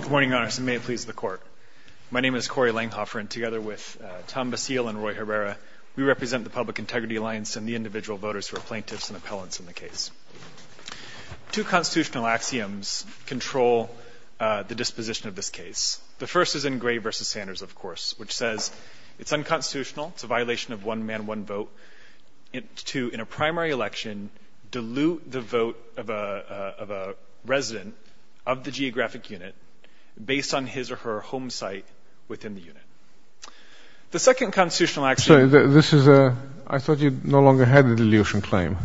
Good morning, Your Honor. May it please the Court. My name is Corey Langhoffer, and together with Tom Basile and Roy Herrera, we represent the Public Integrity Alliance and the individual voters who are plaintiffs and appellants in the case. Two constitutional axioms control the disposition of this case. The first is in Gray v. Sanders, of course, which says it's unconstitutional, it's a violation of one man, one vote, to, in a primary election, dilute the vote of a resident of the geographic unit, based on his or her home site within the unit. The second constitutional axiom... Sorry, this is a... I thought you no longer had the dilution claim.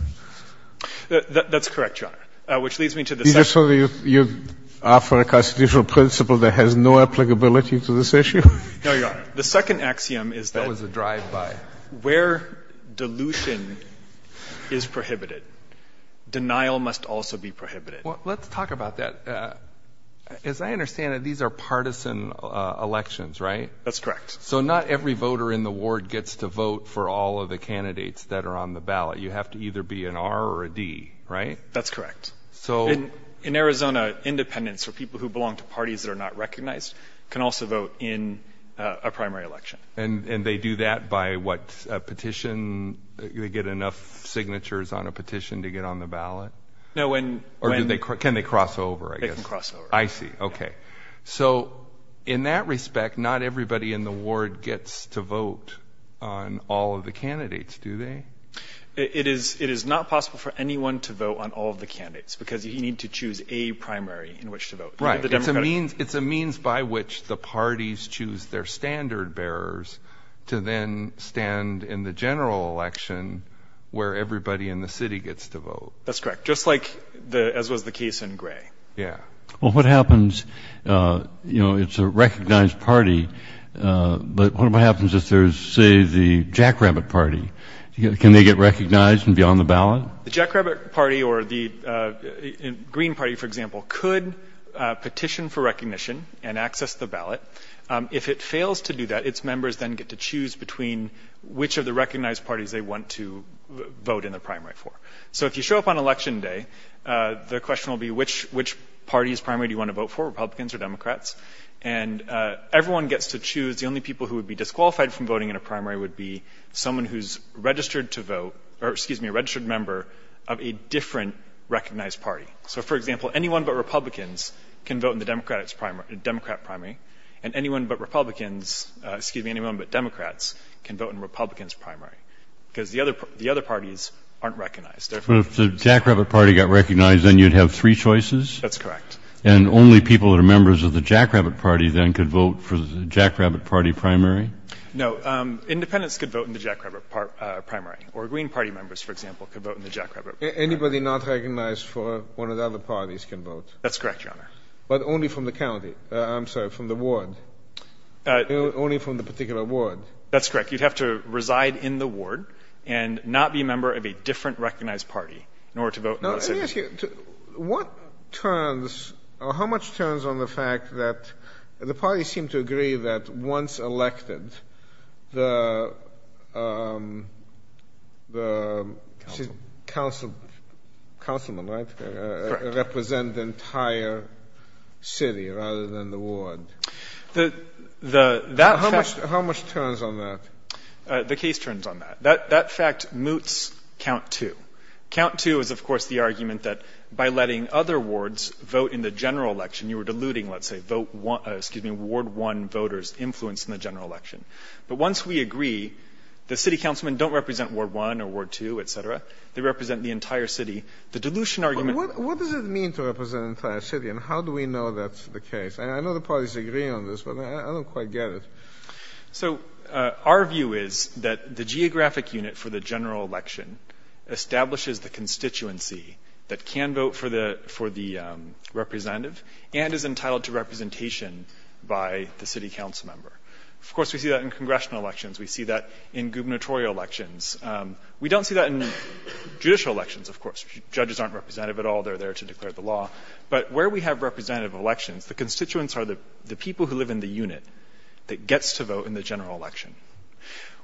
That's correct, Your Honor, which leads me to the second... You just told me you're after a constitutional principle that has no applicability to this issue? No, Your Honor. The second axiom is that... That was a drive-by. Where dilution is prohibited, denial must also be prohibited. Let's talk about that. As I understand it, these are partisan elections, right? That's correct. So not every voter in the ward gets to vote for all of the candidates that are on the ballot. You have to either be an R or a D, right? That's correct. In Arizona, independents, or people who belong to parties that are not recognized, can also vote in a primary election. And they do that by, what, a petition? They get enough signatures on a petition to get on the ballot? No, when... Or can they cross over, I guess? They can cross over. I see. Okay. So in that respect, not everybody in the ward gets to vote on all of the candidates, do they? It is not possible for anyone to vote on all of the candidates, because you need to choose a primary in which to vote. Right. It's a means by which the parties choose their standard bearers to then stand in the general election where everybody in the city gets to vote. That's correct. Just like, as was the case in Gray. Yeah. Well, what happens, you know, it's a recognized party, but what happens if there's, say, the Jackrabbit Party? Can they get recognized and be on the ballot? The Jackrabbit Party or the Green Party, for example, could petition for recognition and access the ballot. If it fails to do that, its members then get to choose between which of the recognized parties they want to vote in the primary for. So if you show up on election day, the question will be, which party's primary do you want to vote for, Republicans or Democrats? And everyone gets to choose. The only people who would be disqualified from voting in a primary would be someone who's registered to vote, or, excuse me, a registered member of a different recognized party. So, for example, anyone but Republicans can vote in the Democrat primary, and anyone but Republicans, excuse me, anyone but Democrats can vote in Republicans' primary, because the other parties aren't recognized. But if the Jackrabbit Party got recognized, then you'd have three choices? That's correct. And only people that are members of the Jackrabbit Party then could vote for the Jackrabbit Party primary? No. Independents could vote in the Jackrabbit Primary, or Green Party members, for example, could vote in the Jackrabbit Primary. Anybody not recognized for one of the other parties can vote. That's correct, Your Honor. But only from the county. I'm sorry, from the ward. Only from the particular ward. That's correct. You'd have to reside in the ward and not be a member of a different recognized party in order to vote in the primary. Let me ask you, what turns, or how much turns on the fact that the parties seem to agree that once elected, the council, councilmen, right, represent the entire city rather than the ward? How much turns on that? The case turns on that. That fact moots count two. Count two is, of course, the argument that by letting other wards vote in the general election, you were diluting, let's say, ward one voters' influence in the general election. But once we agree, the city councilmen don't represent ward one or ward two, etc. They represent the entire city. The dilution argument What does it mean to represent the entire city, and how do we know that's the case? I know the parties agree on this, but I don't quite get it. So our view is that the geographic unit for the general election establishes the constituency that can vote for the representative and is entitled to representation by the city councilmember. Of course, we see that in congressional elections. We see that in gubernatorial elections. We don't see that in judicial elections, of course. Judges aren't representative at all. They're there to declare the law. But where we have representative elections, the constituents are the people who live in the unit that gets to vote in the general election.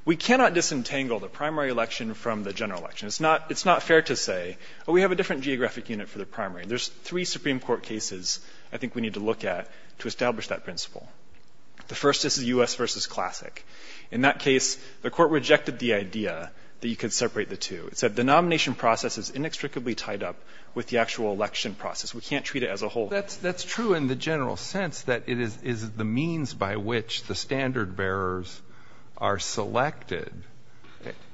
We cannot disentangle the primary election from the general election. It's not fair to say, oh, we have a different geographic unit for the primary. There's three Supreme Court cases I think we need to look at to establish that principle. The first is the U.S. v. Classic. In that case, the Court rejected the idea that you could separate the two. It said the nomination process is inextricably tied up with the actual election process. We can't treat it as a whole. Well, that's true in the general sense that it is the means by which the standard bearers are selected.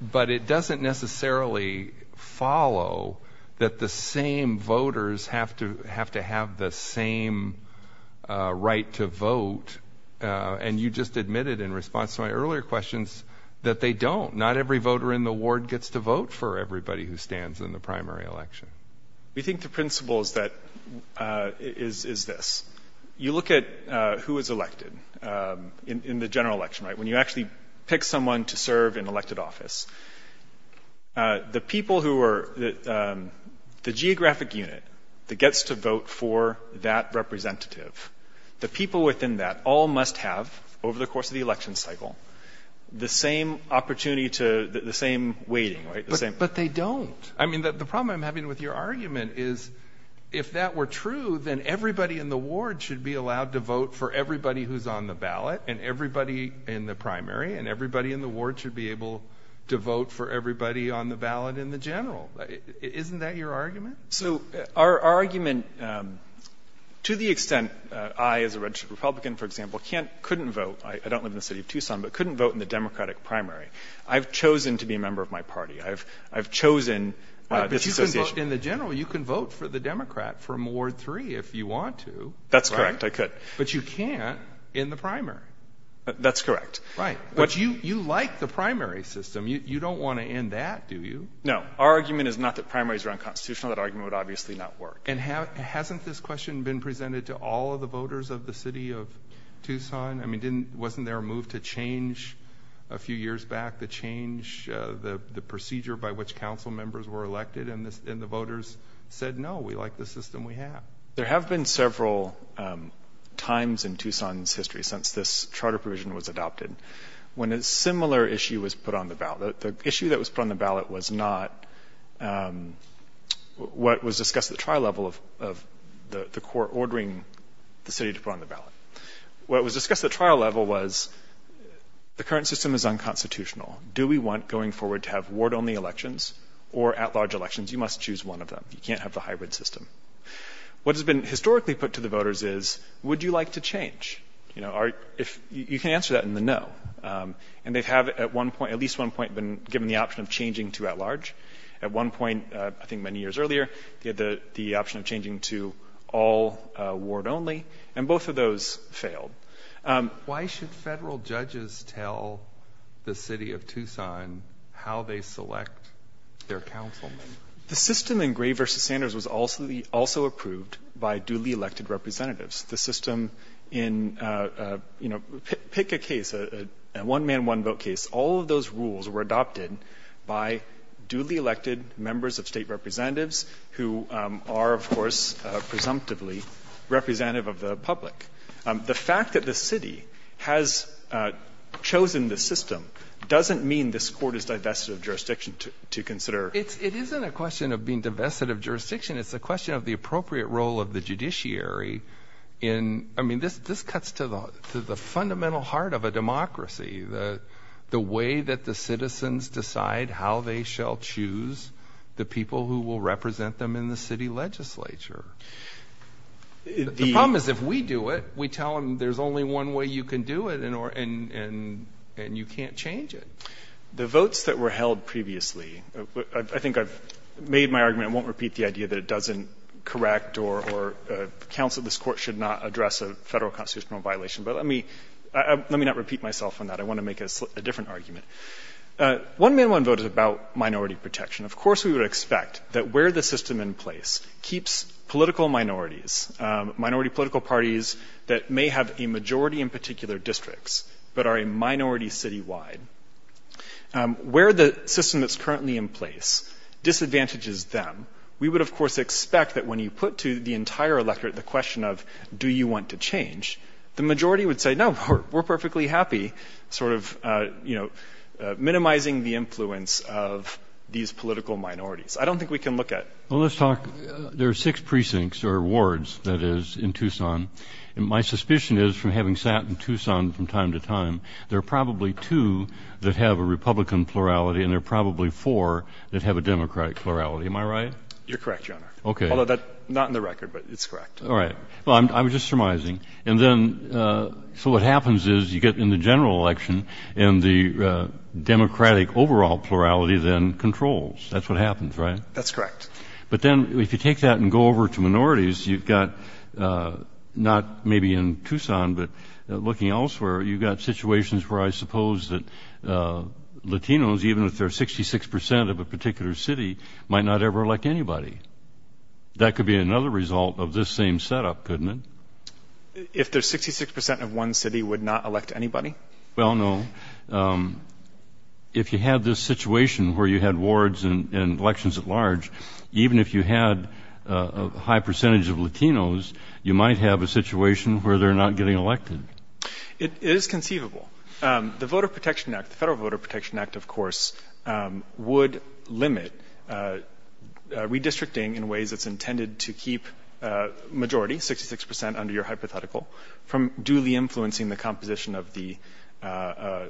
But it doesn't necessarily follow that the same voters have to have the same right to vote. And you just admitted in response to my earlier questions that they don't. Not every voter in the ward gets to vote for everybody who stands in the primary election. We think the principle is that, is this. You look at who is elected in the general election, right, when you actually pick someone to serve in elected office. The people who are, the geographic unit that gets to vote for that representative, the people within that all must have, over the course of the election cycle, the same opportunity to, the same weighting, right? But they don't. I mean, the problem I'm having with your argument is, if that were true, then everybody in the ward should be allowed to vote for everybody who's on the ballot and everybody in the primary and everybody in the ward should be able to vote for everybody on the ballot in the general. Isn't that your argument? So our argument, to the extent I, as a registered Republican, for example, couldn't vote, I don't live in the city of Tucson, but couldn't vote in the Democratic primary. I've chosen to be a member of my party. I've chosen this association. In the general, you can vote for the Democrat from Ward 3 if you want to. That's correct, I could. But you can't in the primary. That's correct. Right. But you like the primary system. You don't want to end that, do you? No. Our argument is not that primaries are unconstitutional. That argument would obviously not work. And hasn't this question been presented to all of the voters of the city of Tucson? I years back, the change, the procedure by which council members were elected and the voters said, no, we like the system we have. There have been several times in Tucson's history since this charter provision was adopted when a similar issue was put on the ballot. The issue that was put on the ballot was not what was discussed at the trial level of the court ordering the city to put on the ballot. What was discussed at the trial level was the current system is unconstitutional. Do we want, going forward, to have ward-only elections or at-large elections? You must choose one of them. You can't have the hybrid system. What has been historically put to the voters is, would you like to change? You can answer that in the no. And they have, at least at one point, been given the option of changing to at-large. At one point, I think many years earlier, they had the option of changing to all ward-only, and both of those failed. Why should federal judges tell the city of Tucson how they select their councilmen? The system in Gray v. Sanders was also approved by duly elected representatives. The system in, you know, pick a case, a one-man, one-vote case. All of those rules were adopted by duly elected members of state representatives, who are, of course, presumptively representative of the public. The fact that the city has chosen the system doesn't mean this court is divested of jurisdiction to consider. It isn't a question of being divested of jurisdiction. It's a question of the appropriate role of the judiciary in, I mean, this cuts to the fundamental heart of a democracy, the way that the citizens decide how they shall choose the people who will represent them in the city legislature. The problem is if we do it, we tell them there's only one way you can do it, and you can't change it. The votes that were held previously, I think I've made my argument. I won't repeat the idea that it doesn't correct or counsel this court should not address a federal constitutional violation, but let me not repeat myself on that. I want to make a different argument. One-man, one-vote is about minority protection. Of course, we would expect that where the system in place keeps political minorities, minority political parties that may have a majority in particular districts, but are a minority citywide, where the system that's currently in place disadvantages them, we would, of course, expect that when you put to the entire electorate the question of do you want to change, the majority would say, no, we're perfectly happy, sort of, you know, minimizing the influence of these political minorities. I don't think we can look at — Well, let's talk — there are six precincts or wards, that is, in Tucson, and my suspicion is from having sat in Tucson from time to time, there are probably two that have a Republican plurality and there are probably four that have a Democrat plurality. Am I right? You're correct, Your Honor. Okay. Although that's not in the record, but it's correct. All right. Well, I'm just surmising. And then, so what happens is you get in the general election and the Democratic overall plurality then controls. That's what happens, right? That's correct. But then if you take that and go over to minorities, you've got not maybe in Tucson, but looking elsewhere, you've got situations where I suppose that Latinos, even if they're 66 percent of a particular city, might not ever elect anybody. That could be another result of this same setup, couldn't it? If they're 66 percent of one city, would not elect anybody? Well, no. If you had this situation where you had wards and elections at large, even if you had a high percentage of Latinos, you might have a situation where they're not getting elected. It is conceivable. The Voter Protection Act, the Federal Voter Protection Act, of course, would limit redistricting in ways that's intended to keep a majority, 66 percent, under your hypothetical, from duly influencing the composition of the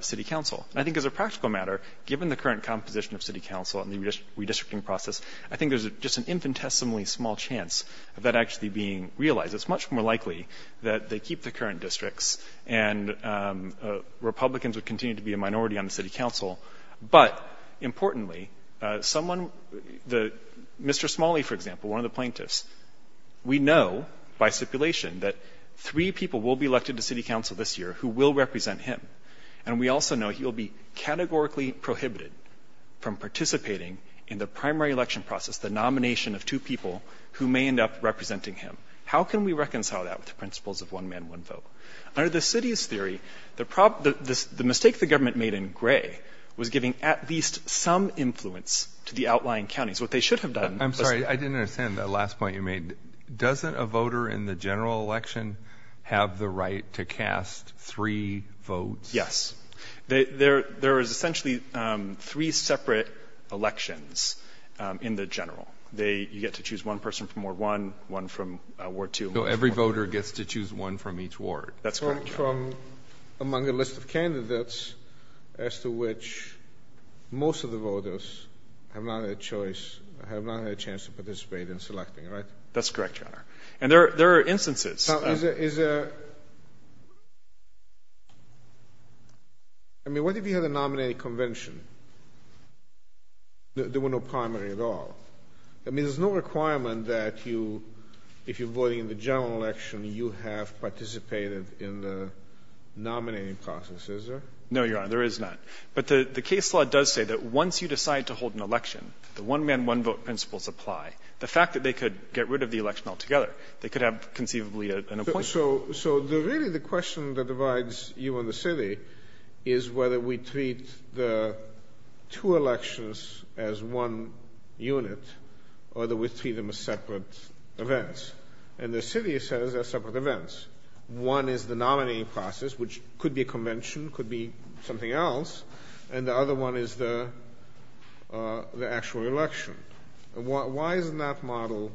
city council. I think as a practical matter, given the current composition of city council and the redistricting process, I think there's just an infinitesimally small chance of that actually being realized. It's much more likely that they keep the current districts and Republicans would continue to be a minority on the city council. But importantly, someone, Mr. Smalley, for example, one of the plaintiffs, we know by stipulation that three people will be elected to city council this year who will represent him. And we also know he will be categorically prohibited from participating in the primary election process, the nomination of two people who may end up representing him. How can we reconcile that with the principles of one man, one vote? Under the city's theory, the mistake the government made in Gray was giving at least some influence to the outlying counties. What they should have done. I'm sorry, I didn't understand that last point you made. Doesn't a voter in the general election have the right to cast three votes? Yes, there is essentially three separate elections in the general. You get to choose one person from War One, one from War Two. So every voter gets to choose one from each ward. That's correct, Your Honor. From among a list of candidates as to which most of the voters have not had a choice, have not had a chance to participate in selecting, right? That's correct, Your Honor. And there are instances. Now, is there, I mean, what if you had a nominating convention? There were no primary at all. I mean, there's no requirement that you, if you're voting in the general election, you have participated in the nominating process, is there? No, Your Honor, there is not. But the case law does say that once you decide to hold an election, the one man, one vote principles apply. The fact that they could get rid of the election altogether, they could have conceivably an appointment. So, so the really the question that divides you and the city is whether we treat the two elections as one unit or that we treat them as separate events. And the city says they're separate events. One is the nominating process, which could be a convention, could be something else. And the other one is the the actual election. Why isn't that model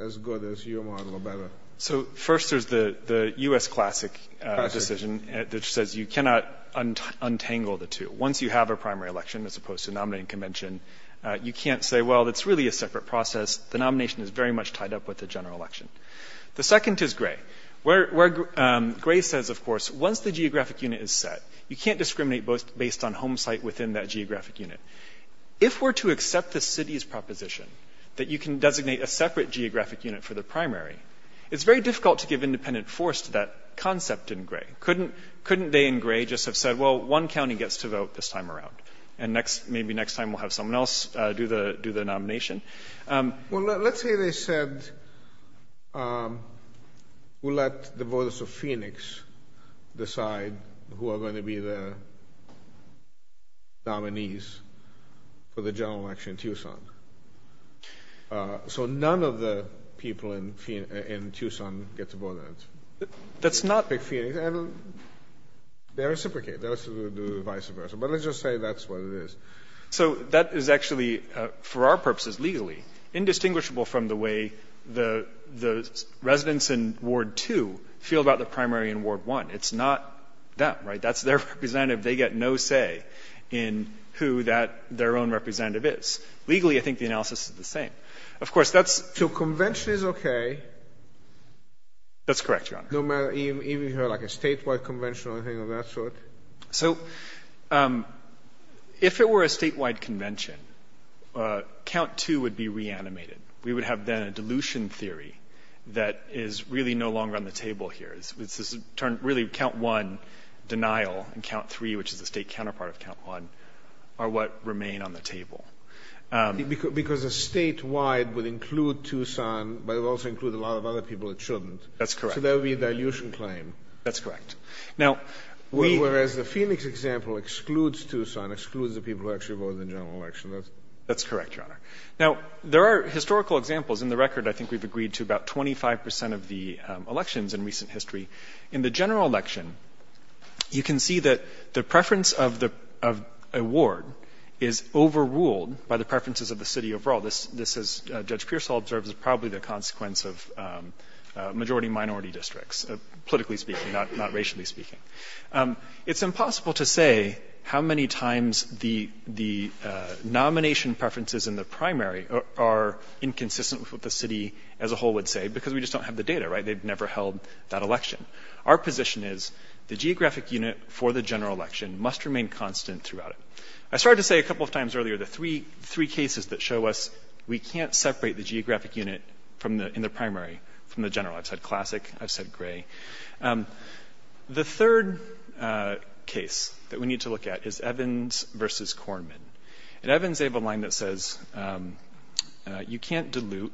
as good as your model or better? So first, there's the U.S. classic decision that says you cannot untangle the two. Once you have a primary election, as opposed to nominating convention, you can't say, well, that's really a separate process. The nomination is very much tied up with the general election. The second is Gray, where Gray says, of course, once the geographic unit is set, you can't discriminate based on home site within that geographic unit. If we're to accept the city's proposition that you can designate a separate geographic unit for the primary, it's very difficult to give independent force to that concept in Gray. Couldn't couldn't they in Gray just have said, well, one county gets to vote this time around and next, maybe next time we'll have someone else do the do the nomination? Well, let's say they said we'll let the voters of Phoenix decide who are going to be the. Dominees for the general election in Tucson. So none of the people in Tucson get to vote. That's not the Phoenix. They reciprocate. They also do the vice versa. But let's just say that's what it is. So that is actually, for our purposes legally, indistinguishable from the way the residents in Ward 2 feel about the primary in Ward 1. It's not them, right? That's their representative. They get no say in who that their own representative is. Legally, I think the analysis is the same. Of course, that's. So convention is okay. That's correct, Your Honor. No matter, even if you have like a statewide convention or anything of that sort. So if it were a statewide convention, count two would be reanimated. We would have then a dilution theory that is really no longer on the table here. It's this turn, really count one denial and count three, which is the state counterpart of count one, are what remain on the table. Because a statewide would include Tucson, but it also includes a lot of other people that shouldn't. That's correct. So that would be a dilution claim. That's correct. Now, whereas the Phoenix example excludes Tucson, excludes the people who actually vote in the general election. That's correct, Your Honor. Now, there are historical examples. In the record, I think we've agreed to about 25% of the elections in recent history. In the general election, you can see that the preference of a ward is overruled by the preferences of the city overall. This, as Judge Pearsall observes, is probably the consequence of majority minority districts, politically speaking, not racially speaking. It's impossible to say how many times the nomination preferences in the primary are inconsistent with what the city as a whole would say. Because we just don't have the data, right? They've never held that election. Our position is the geographic unit for the general election must remain constant throughout it. I started to say a couple of times earlier, the three cases that show us we can't separate the geographic unit in the primary from the general. I've said classic. I've said gray. The third case that we need to look at is Evans versus Kornman. At Evans, they have a line that says, you can't dilute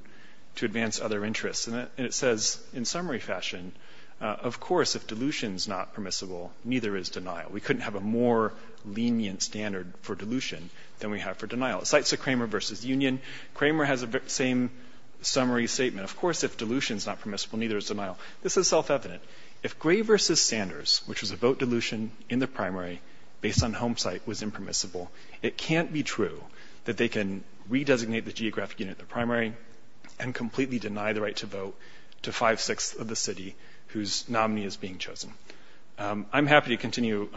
to advance other interests. And it says, in summary fashion, of course, if dilution is not permissible, neither is denial. We couldn't have a more lenient standard for dilution than we have for denial. It cites the Kramer versus Union. Kramer has the same summary statement. Of course, if dilution is not permissible, neither is denial. This is self-evident. If Gray versus Sanders, which was a vote dilution in the primary based on home site, was impermissible, it can't be true that they can redesignate the vote to five-sixths of the city whose nominee is being chosen. I'm happy to continue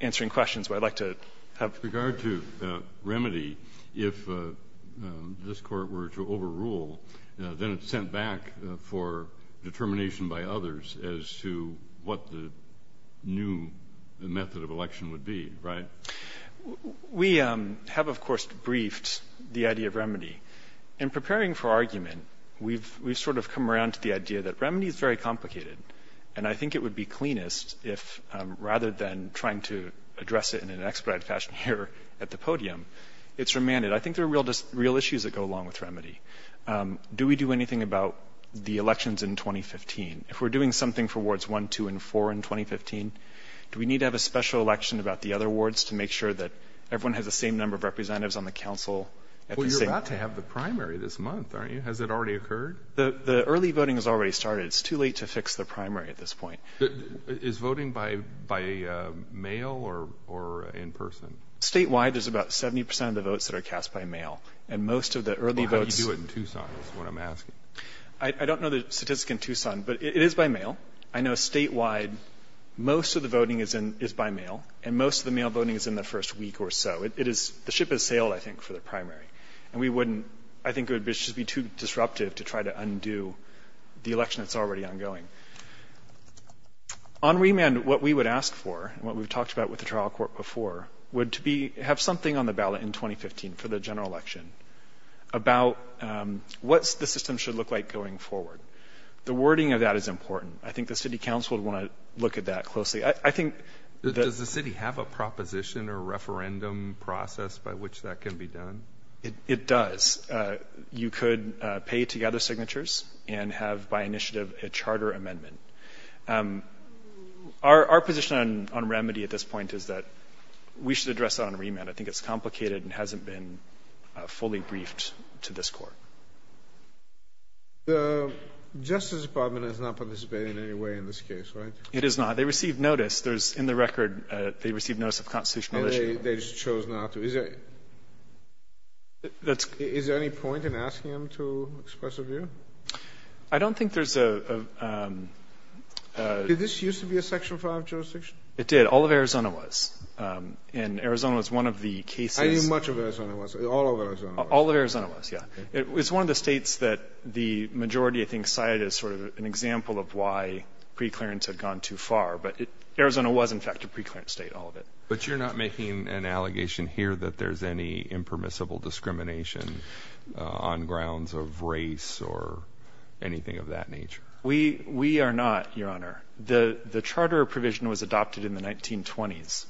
answering questions, but I'd like to have... With regard to remedy, if this court were to overrule, then it's sent back for determination by others as to what the new method of election would be, right? We have, of course, briefed the idea of remedy. In preparing for argument, we've sort of come around to the idea that remedy is very complicated. And I think it would be cleanest if, rather than trying to address it in an expedited fashion here at the podium, it's remanded. I think there are real issues that go along with remedy. Do we do anything about the elections in 2015? If we're doing something for wards one, two, and four in 2015, do we need to have a special election about the other wards to make sure that everyone has the same number of representatives on the council? Well, you're about to have the primary this month, aren't you? Has it already occurred? The early voting has already started. It's too late to fix the primary at this point. Is voting by mail or in person? Statewide, there's about 70% of the votes that are cast by mail. And most of the early votes... How do you do it in Tucson, is what I'm asking. I don't know the statistics in Tucson, but it is by mail. I know statewide, most of the voting is by mail, and most of the mail voting is in the first week or so. The ship has sailed, I think, for the primary, and I think it would just be too disruptive to try to undo the election that's already ongoing. On remand, what we would ask for, and what we've talked about with the trial court before, would to have something on the ballot in 2015 for the general election about what the system should look like going forward. The wording of that is important. I think the city council would want to look at that closely. Does the city have a proposition or a referendum process by which that can be done? It does. You could pay to gather signatures and have, by initiative, a charter amendment. Our position on remedy at this point is that we should address that on remand. I think it's complicated and hasn't been fully briefed to this court. The Justice Department is not participating in any way in this case, right? It is not. They received notice. There's, in the record, they received notice of constitutional issue. And they just chose not to. Is there any point in asking them to express a view? I don't think there's a... Did this used to be a Section 5 jurisdiction? It did. All of Arizona was, and Arizona was one of the cases... I mean, much of Arizona was, all of Arizona was. All of Arizona was, yeah. It was one of the states that the majority, I think, cited as sort of an example of why preclearance had gone too far. But Arizona was, in fact, a preclearance state, all of it. But you're not making an allegation here that there's any impermissible discrimination on grounds of race or anything of that nature? We are not, Your Honor. The charter provision was adopted in the 1920s.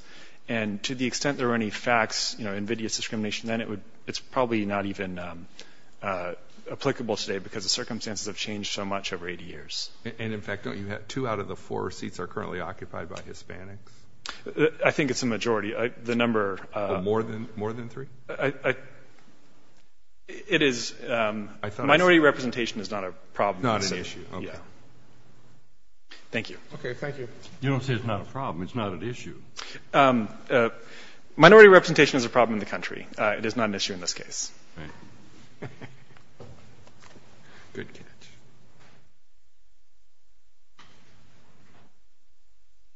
And to the extent there were any facts, you know, invidious discrimination, then it would, it's probably not even applicable today because the circumstances have changed so much over 80 years. And, in fact, don't you have two out of the four seats are currently occupied by Hispanics? I think it's a majority. The number... More than three? It is, minority representation is not a problem. Not an issue. Okay. Thank you. Okay. Thank you. You don't say it's not a problem. It's not an issue. Minority representation is a problem in the country. It is not an issue in this case. Good catch.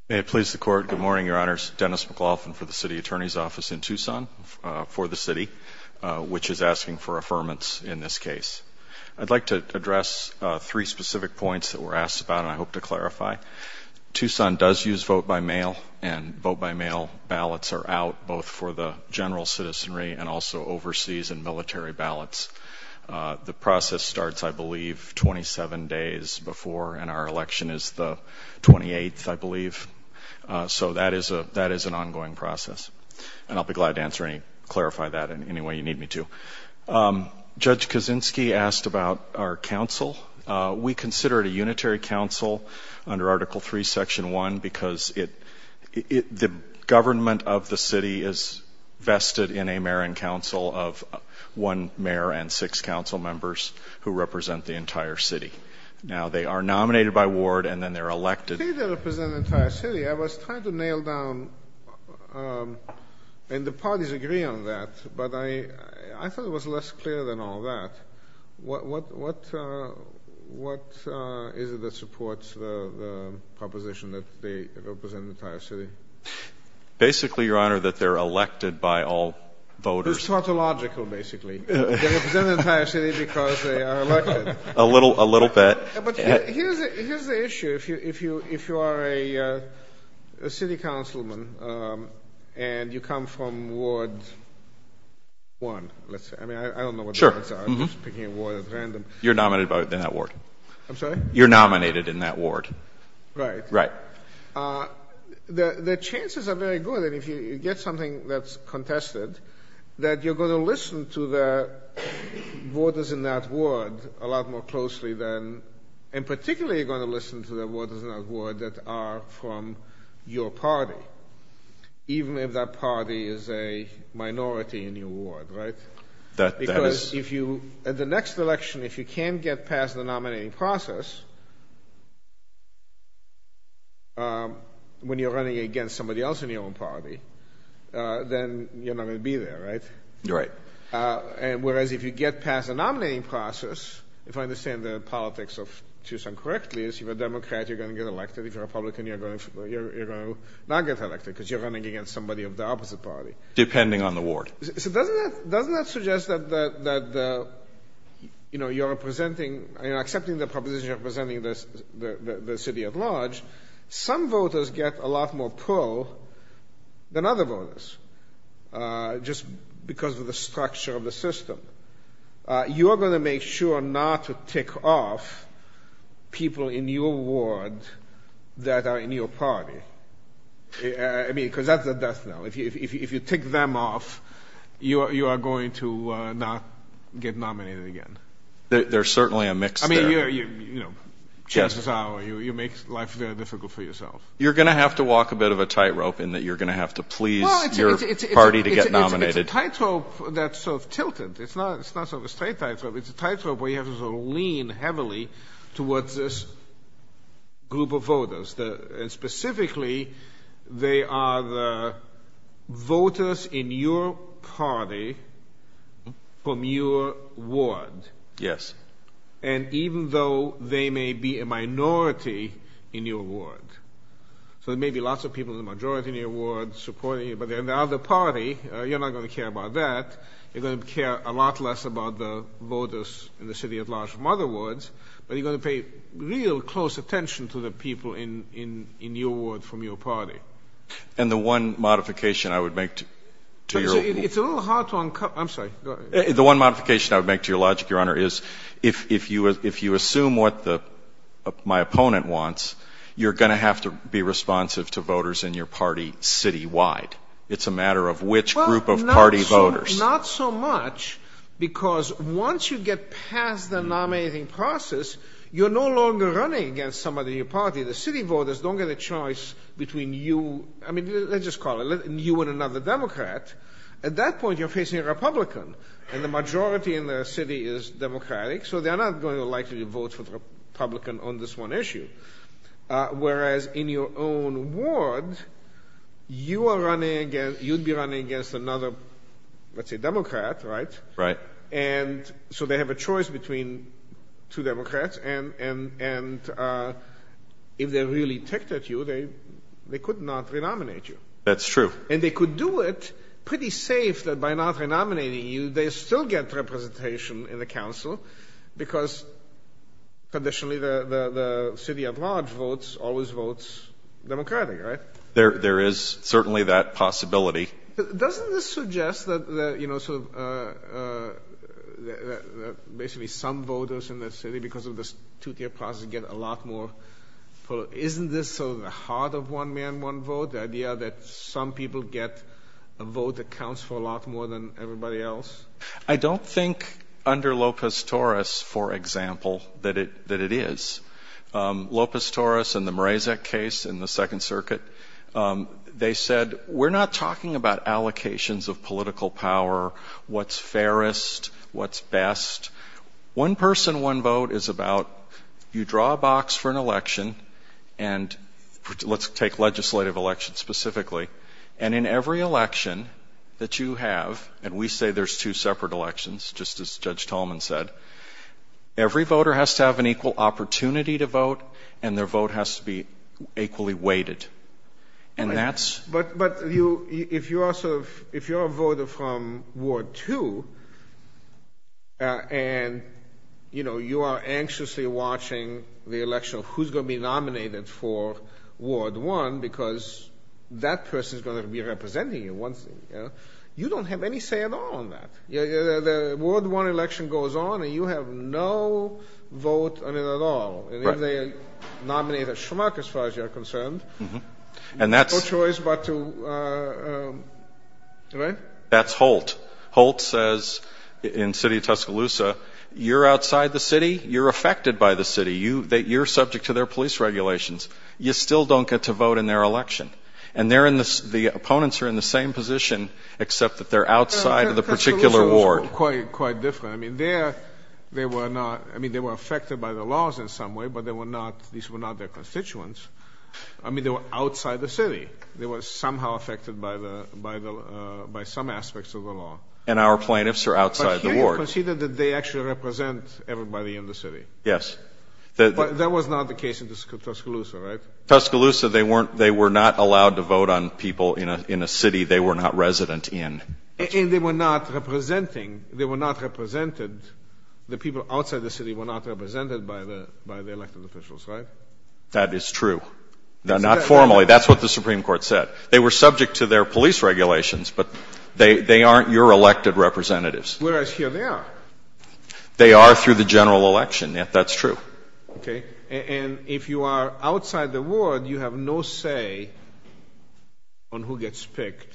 May it please the court. Good morning, Your Honors. Dennis McLaughlin for the City Attorney's Office in Tucson for the city, which is asking for affirmance in this case. I'd like to address three specific points that were asked about and I hope to clarify. Tucson does use vote by mail and vote by mail ballots are out both for the general citizenry and also overseas and military ballots. The process starts, I believe, 27 days before and our election is the 28th, I believe. So that is an ongoing process and I'll be glad to answer any, clarify that in any way you need me to. Judge Kaczynski asked about our council. We consider it a unitary council under Article III, Section 1, because the government of the city is vested in a mayor and council of one mayor and six council members who represent the entire city. Now, they are nominated by ward and then they're elected. They represent the entire city. I was trying to nail down, and the parties agree on that, but I thought it was less clear than all that. What is it that supports the proposition that they represent the entire city? Basically, Your Honor, that they're elected by all voters. It's tautological, basically. They represent the entire city because they are elected. A little, a little bit. But here's the issue. If you are a city councilman and you come from Ward 1, let's say, I mean, I don't know what the words are. I'm just picking a ward at random. You're nominated in that ward. I'm sorry? You're nominated in that ward. Right. Right. The chances are very good. And if you get something that's contested, that you're going to listen to the voters in that ward a lot more closely than, and particularly, you're going to listen to the voters in that ward that are from your party, even if that party is a minority in your ward, right? That is- Because if you, at the next election, if you can't get past the nominating process, when you're running against somebody else in your own party, then you're not going to be there, right? Right. And whereas if you get past the nominating process, if I understand the politics of Tucson correctly, is if you're a Democrat, you're going to get elected. If you're a Republican, you're going to not get elected because you're running against somebody of the opposite party. Depending on the ward. So doesn't that, doesn't that suggest that, that, that the, you know, you're representing, you know, accepting the proposition of representing the city at large, some voters get a lot more pro than other voters, just because of the structure of the system. You are going to make sure not to tick off people in your ward that are in your party. I mean, because that's the death knell. If you, if you, if you tick them off, you are, you are going to not get nominated again. There's certainly a mix there. You know, chances are you, you make life very difficult for yourself. You're going to have to walk a bit of a tightrope in that you're going to have to please your party to get nominated. It's a tightrope that's sort of tilted. It's not, it's not sort of a straight tightrope. It's a tightrope where you have to sort of lean heavily towards this group of voters that, and specifically they are the voters in your party from your ward. Yes. And even though they may be a minority in your ward, so there may be lots of people in the majority in your ward supporting you, but they're in the other party, you're not going to care about that. You're going to care a lot less about the voters in the city at large from other wards, but you're going to pay real close attention to the people in, in, in your ward from your party. And the one modification I would make to, to your, it's a little hard to, I'm sorry. The one modification I would make to your logic, Your Honor, is if, if you, if you assume what the, my opponent wants, you're going to have to be responsive to voters in your party citywide. It's a matter of which group of party voters. Not so much because once you get past the nominating process, you're no longer running against somebody in your party. The city voters don't get a choice between you. I mean, let's just call it you and another Democrat. At that point, you're facing a Republican and the majority in the city is Democratic, so they're not going to likely vote for the Republican on this one issue. Whereas in your own ward, you are running against, you'd be running against another, let's say Democrat, right? Right. And so they have a choice between two Democrats and, and, and if they're really ticked at you, they, they could not renominate you. That's true. And they could do it pretty safe that by not renominating you, they still get representation in the council because conditionally the, the, the city at large votes, always votes Democratic, right? There, there is certainly that possibility. Doesn't this suggest that, that, you know, sort of, uh, uh, that, that basically some voters in the city, because of this two-tier process, get a lot more, isn't this sort of the heart of one man, one vote, the idea that some people get a vote that counts for a lot more than everybody else? I don't think under Lopez Torres, for example, that it, that it is, um, Lopez Torres and the Mrazek case in the second circuit, um, they said, we're not talking about allocations of political power, what's fairest, what's best. One person, one vote is about, you draw a box for an election and let's take legislative elections specifically. And in every election that you have, and we say there's two separate elections, just as Judge Tolman said, every voter has to have an equal opportunity to vote and their vote has to be equally weighted. And that's. But, but you, if you are sort of, if you're a voter from Ward two, uh, and, you know, you are anxiously watching the election of who's going to be nominated for Ward one, because that person is going to be representing you once, you don't have any say at all on that. Yeah. The Ward one election goes on and you have no vote on it at all. And if they nominate a schmuck, as far as you're concerned. And that's. No choice, but to, uh, right? That's Holt. Holt says in city of Tuscaloosa, you're outside the city, you're affected by the city. You, you're subject to their police regulations. You still don't get to vote in their election. And they're in this, the opponents are in the same position, except that they're outside of the particular Ward. Quite, quite different. I mean, there, they were not, I mean, they were affected by the laws in some way, but they were not, these were not their constituents. I mean, they were outside the city. They were somehow affected by the, by the, uh, by some aspects of the law. And our plaintiffs are outside the Ward. But here you conceded that they actually represent everybody in the city. Yes. But that was not the case in Tuscaloosa, right? Tuscaloosa, they weren't, they were not allowed to vote on people in a, in a city they were not resident in. And they were not representing, they were not represented, the people outside the city were not represented by the, by the elected officials, right? That is true. Now, not formally. That's what the Supreme Court said. They were subject to their police regulations, but they, they aren't your elected representatives. Whereas here they are. They are through the general election. Yeah, that's true. Okay. And if you are outside the Ward, you have no say on who gets picked,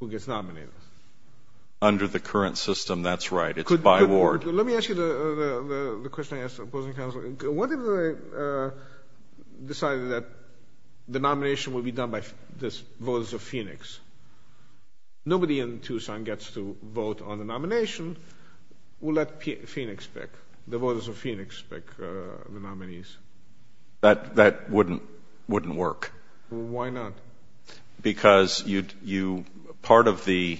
who gets nominated. Under the current system. That's right. It's by Ward. Let me ask you the, the, the question I asked the opposing counsel. What if they decided that the nomination would be done by the voters of Phoenix? Nobody in Tucson gets to vote on the nomination. We'll let Phoenix pick, the voters of Phoenix pick the nominees. That, that wouldn't, wouldn't work. Why not? Because you, you, part of the,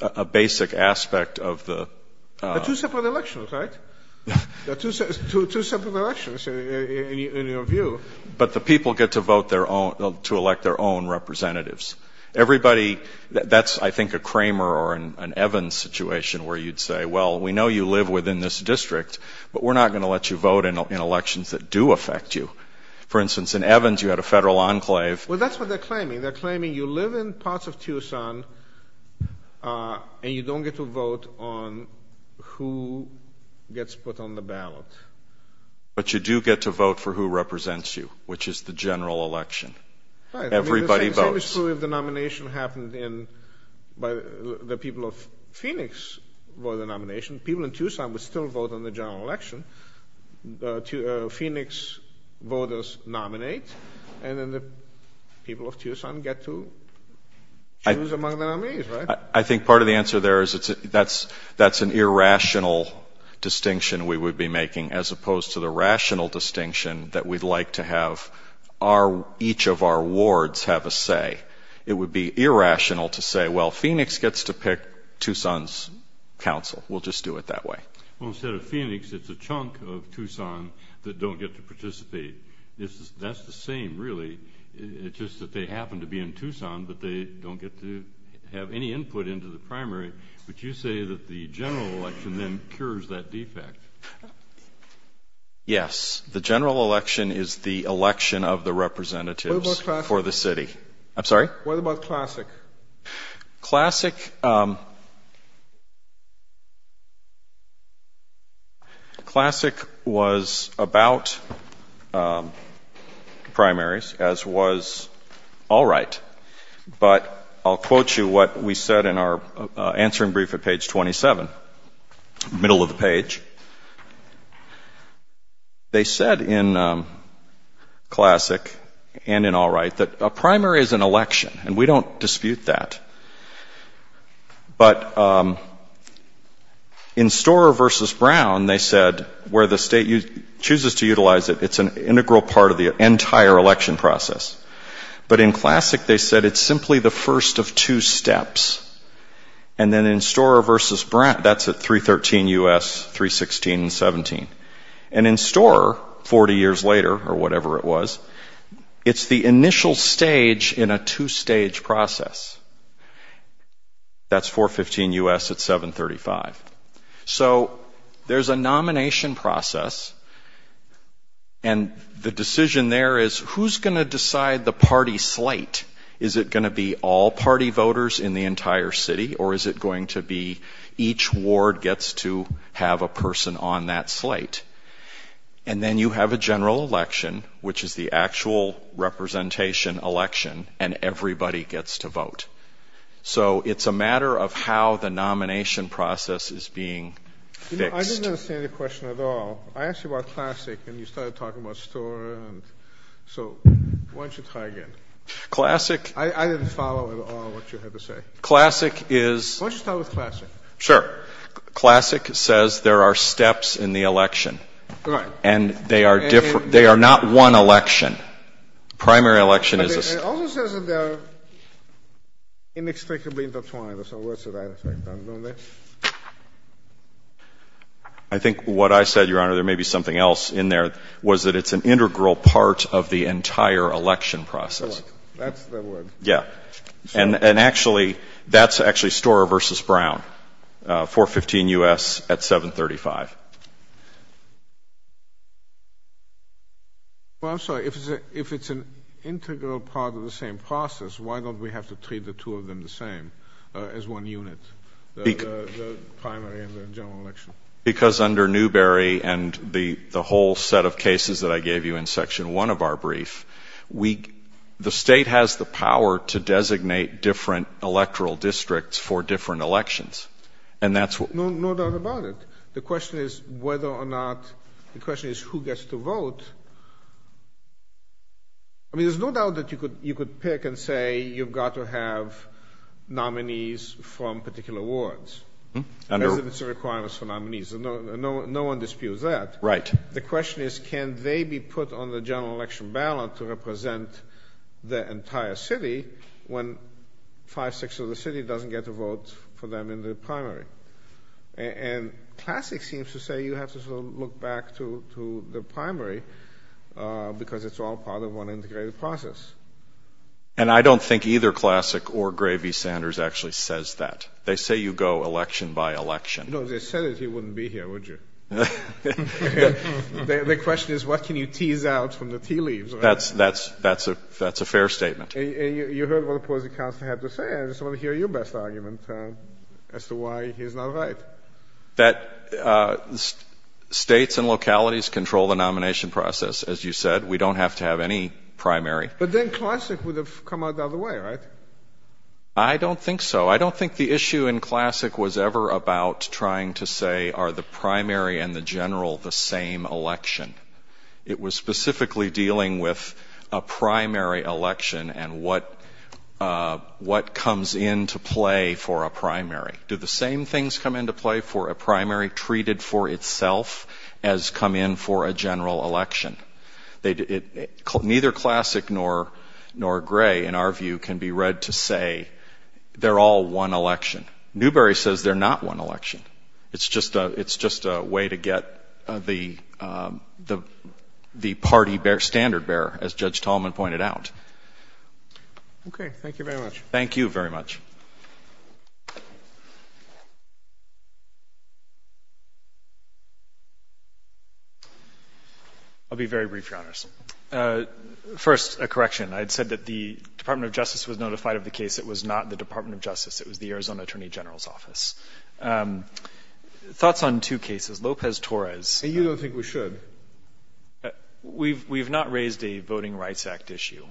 a basic aspect of the. The two separate elections, right? The two separate elections in your view. But the people get to vote their own, to elect their own representatives. Everybody that's, I think a Kramer or an Evans situation where you'd say, well, we know you live within this district, but we're not going to let you vote in elections that do affect you. For instance, in Evans, you had a federal enclave. Well, that's what they're claiming. They're claiming you live in parts of Tucson and you don't get to vote on who gets put on the ballot. But you do get to vote for who represents you, which is the general election. Everybody votes. The same is true if the nomination happened in, by the people of Phoenix for the nomination, people in Tucson would still vote on the general election. The Phoenix voters nominate, and then the people of Tucson get to choose among the nominees, right? I think part of the answer there is that's, that's an irrational distinction we would be making as opposed to the rational distinction that we'd like to have our, each of our wards have a say. It would be irrational to say, well, Phoenix gets to pick Tucson's council. We'll just do it that way. Well, instead of Phoenix, it's a chunk of Tucson that don't get to participate. This is, that's the same, really. It's just that they happen to be in Tucson, but they don't get to have any input into the primary. But you say that the general election then cures that defect. Yes. The general election is the election of the representatives for the city. I'm sorry? What about classic? Classic. Classic was about primaries, as was all right, but I'll quote you what we said in our answering brief at page 27, middle of the page. They said in classic and in all right, that a primary is an election and we don't dispute that. But in Storer versus Brown, they said where the state chooses to utilize it, it's an integral part of the entire election process. But in classic, they said it's simply the first of two steps. And then in Storer versus Brown, that's at 313 U.S., 316 and 17. And in Storer, 40 years later or whatever it was, it's the initial stage in a two stage process. That's 415 U.S. at 735. So there's a nomination process. And the decision there is who's going to decide the party slate? Is it going to be all party voters in the entire city or is it going to be each ward gets to have a person on that slate? And then you have a general election, which is the actual representation election, and everybody gets to vote. So it's a matter of how the nomination process is being fixed. I didn't understand the question at all. I asked you about classic and you started talking about Storer. So why don't you try again? Classic. I didn't follow at all what you had to say. Classic is. Why don't you start with classic? Sure. Classic says there are steps in the election and they are different. They are not one election. Primary election is. But it also says that they are inextricably intertwined or something. What's the right effect on them? I think what I said, Your Honor, there may be something else in there, was that it's an integral part of the entire election process. That's the word. Yeah. And actually, that's actually Storer versus Brown, 415 U.S. at 735. Well, I'm sorry, if it's an integral part of the same process, why don't we have to treat the two of them the same as one unit, the primary and the general election? Because under Newbery and the whole set of cases that I gave you in Section 1 of our brief, the state has the power to designate different electoral districts for different elections. And that's what. The question is, how do you designate different electoral districts for different elections? The question is whether or not, the question is who gets to vote. I mean, there's no doubt that you could pick and say you've got to have nominees from particular wards. And it's a requirement for nominees and no one disputes that. Right. The question is, can they be put on the general election ballot to represent the entire city when five, six of the city doesn't get to vote for them in the primary? To say you have to sort of look back to the primary because it's all part of one integrated process. And I don't think either Classic or Gravy-Sanders actually says that. They say you go election by election. No, they said that he wouldn't be here, would you? The question is, what can you tease out from the tea leaves? That's a fair statement. And you heard what the opposing counsel had to say, I just want to hear your best argument as to why he's not right. That states and localities control the nomination process. As you said, we don't have to have any primary. But then Classic would have come out the other way, right? I don't think so. I don't think the issue in Classic was ever about trying to say, are the primary and the general the same election? It was specifically dealing with a primary election and what comes into play for a primary. Do the same things come into play for a primary treated for itself as come in for a general election? Neither Classic nor Gray, in our view, can be read to say they're all one election. Newberry says they're not one election. It's just a way to get the party standard bear, as Judge Tallman pointed out. OK, thank you very much. Thank you very much. I'll be very brief, Your Honors. First, a correction. I'd said that the Department of Justice was notified of the case. It was not the Department of Justice. It was the Arizona Attorney General's office. Thoughts on two cases. Lopez-Torres. And you don't think we should? We've not raised a Voting Rights Act issue.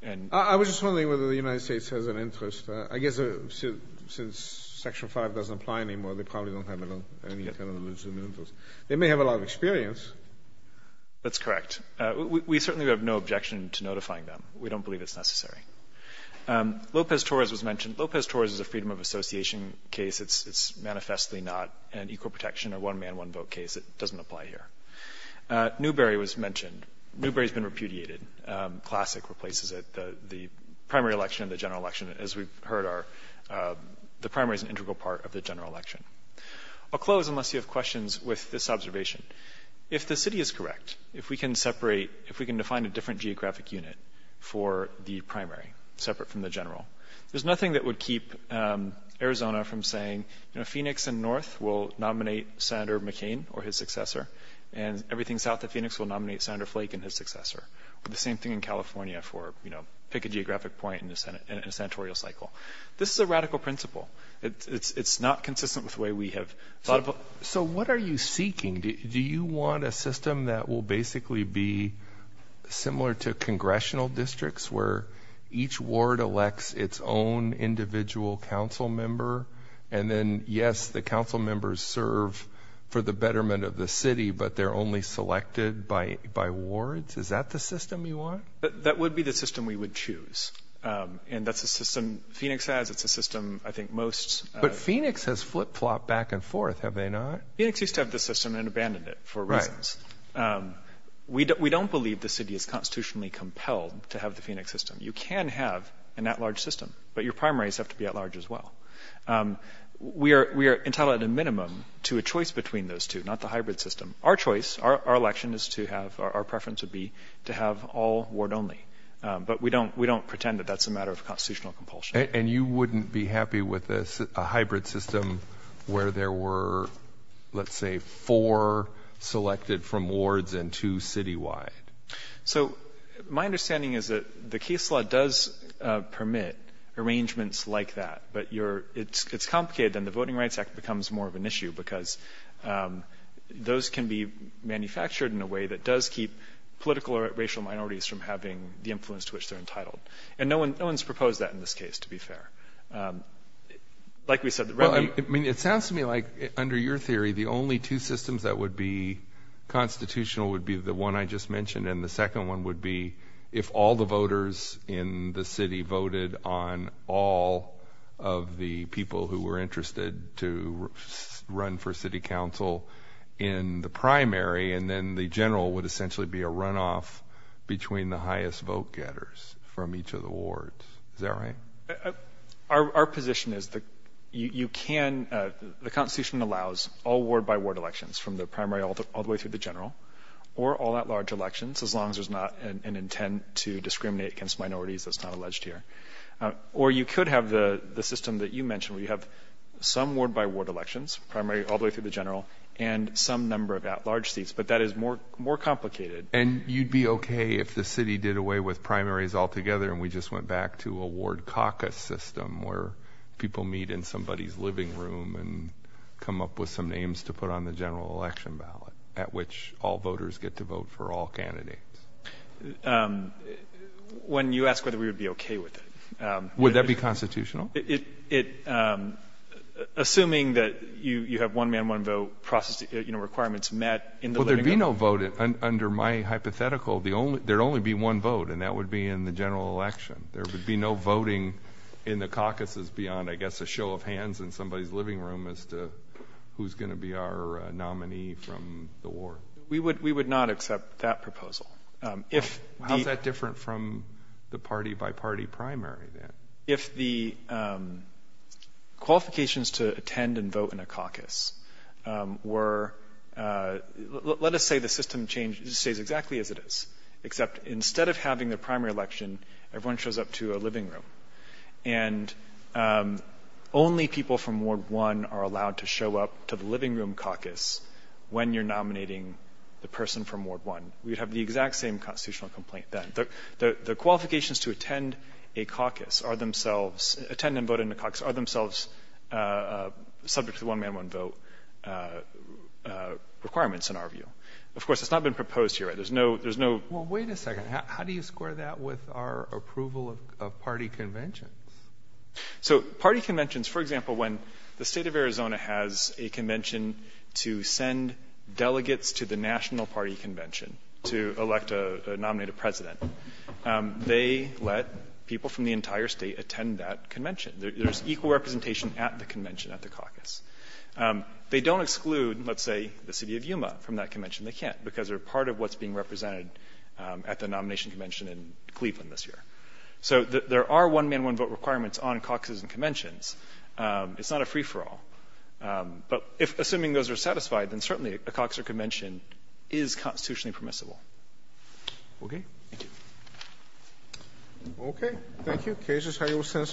And I was just wondering whether the United States has an interest. I guess since Section 5 doesn't apply anymore, they probably don't have any interest in those. They may have a lot of experience. That's correct. We certainly have no objection to notifying them. We don't believe it's necessary. Lopez-Torres was mentioned. Lopez-Torres is a freedom of association case. It's manifestly not an equal protection or one man, one vote case. It doesn't apply here. Newberry was mentioned. Newberry's been repudiated. Classic replaces it. The primary election and the general election, as we've heard, the primary is an integral part of the general election. I'll close, unless you have questions, with this observation. If the city is correct, if we can separate, if we can define a different geographic unit for the primary, separate from the general, there's nothing that would keep Arizona from saying Phoenix and North will nominate Senator McCain or his successor, and everything south of Phoenix will nominate Senator Flake and his successor. The same thing in California for, you know, pick a geographic point in the Senate, in a senatorial cycle. This is a radical principle. It's not consistent with the way we have thought of it. So what are you seeking? Do you want a system that will basically be similar to congressional districts where each ward elects its own individual council member? And then, yes, the council members serve for the betterment of the city, but they're only selected by wards? Is that the system you want? That would be the system we would choose. And that's a system Phoenix has. It's a system, I think, most... But Phoenix has flip-flopped back and forth, have they not? Phoenix used to have this system and abandoned it for reasons. We don't believe the city is constitutionally compelled to have the Phoenix system. You can have an at-large system, but your primaries have to be at-large as well. We are entitled, at a minimum, to a choice between those two, not the hybrid system. Our choice, our election is to have, our preference would be to have all ward only. But we don't pretend that that's a matter of constitutional compulsion. And you wouldn't be happy with a hybrid system where there were, let's say, four selected from wards and two citywide? So my understanding is that the case law does permit arrangements like that. But it's complicated. And the Voting Rights Act becomes more of an issue because those can be manufactured in a way that does keep political or racial minorities from having the influence to which they're entitled. And no one's proposed that in this case, to be fair. Like we said... Well, I mean, it sounds to me like under your theory, the only two systems that would be constitutional would be the one I just mentioned. And the second one would be if all the voters in the city voted on all of the people who were interested to run for city council in the primary. And then the general would essentially be a runoff between the highest vote getters from each of the wards, is that right? Our position is that you can, the Constitution allows all ward by ward elections from the primary all the way through the general or all at large elections, as long as there's not an intent to discriminate against minorities that's not alleged here. Or you could have the system that you mentioned, where you have some ward by ward elections, primary all the way through the general, and some number of at large seats. But that is more complicated. And you'd be OK if the city did away with primaries altogether and we just went back to a ward caucus system where people meet in somebody's living room and come up with some names to put on the general election ballot at which all voters get to vote for all candidates. When you ask whether we would be OK with it. Would that be constitutional? Assuming that you have one man, one vote process, you know, requirements met in the living room. There'd be no vote under my hypothetical, there'd only be one vote and that would be in the general election. There would be no voting in the caucuses beyond, I guess, a show of hands in somebody's living room as to who's going to be our nominee from the ward. We would not accept that proposal. How's that different from the party by party primary then? If the qualifications to attend and vote in a caucus were, let us say the system stays exactly as it is, except instead of having the primary election, everyone shows up to a living room and only people from ward one are allowed to show up to the living room caucus when you're nominating the person from ward one. We'd have the exact same constitutional complaint then. The qualifications to attend a caucus are themselves, attend and vote in a caucus, are themselves subject to one man, one vote requirements in our view. Of course, it's not been proposed here. There's no, there's no. Well, wait a second. How do you square that with our approval of party conventions? So party conventions, for example, when the state of Arizona has a convention to send delegates to the national party convention to elect a, nominate a president, they let people from the entire state attend that convention. There's equal representation at the convention, at the caucus. They don't exclude, let's say the city of Yuma from that convention. They can't because they're part of what's being represented at the nomination convention in Cleveland this year. So there are one man, one vote requirements on caucuses and conventions. It's not a free for all. But if, assuming those are satisfied, then certainly a caucus or convention is constitutionally permissible. Okay. Thank you. Thank you. Case is held. Your sentence amended.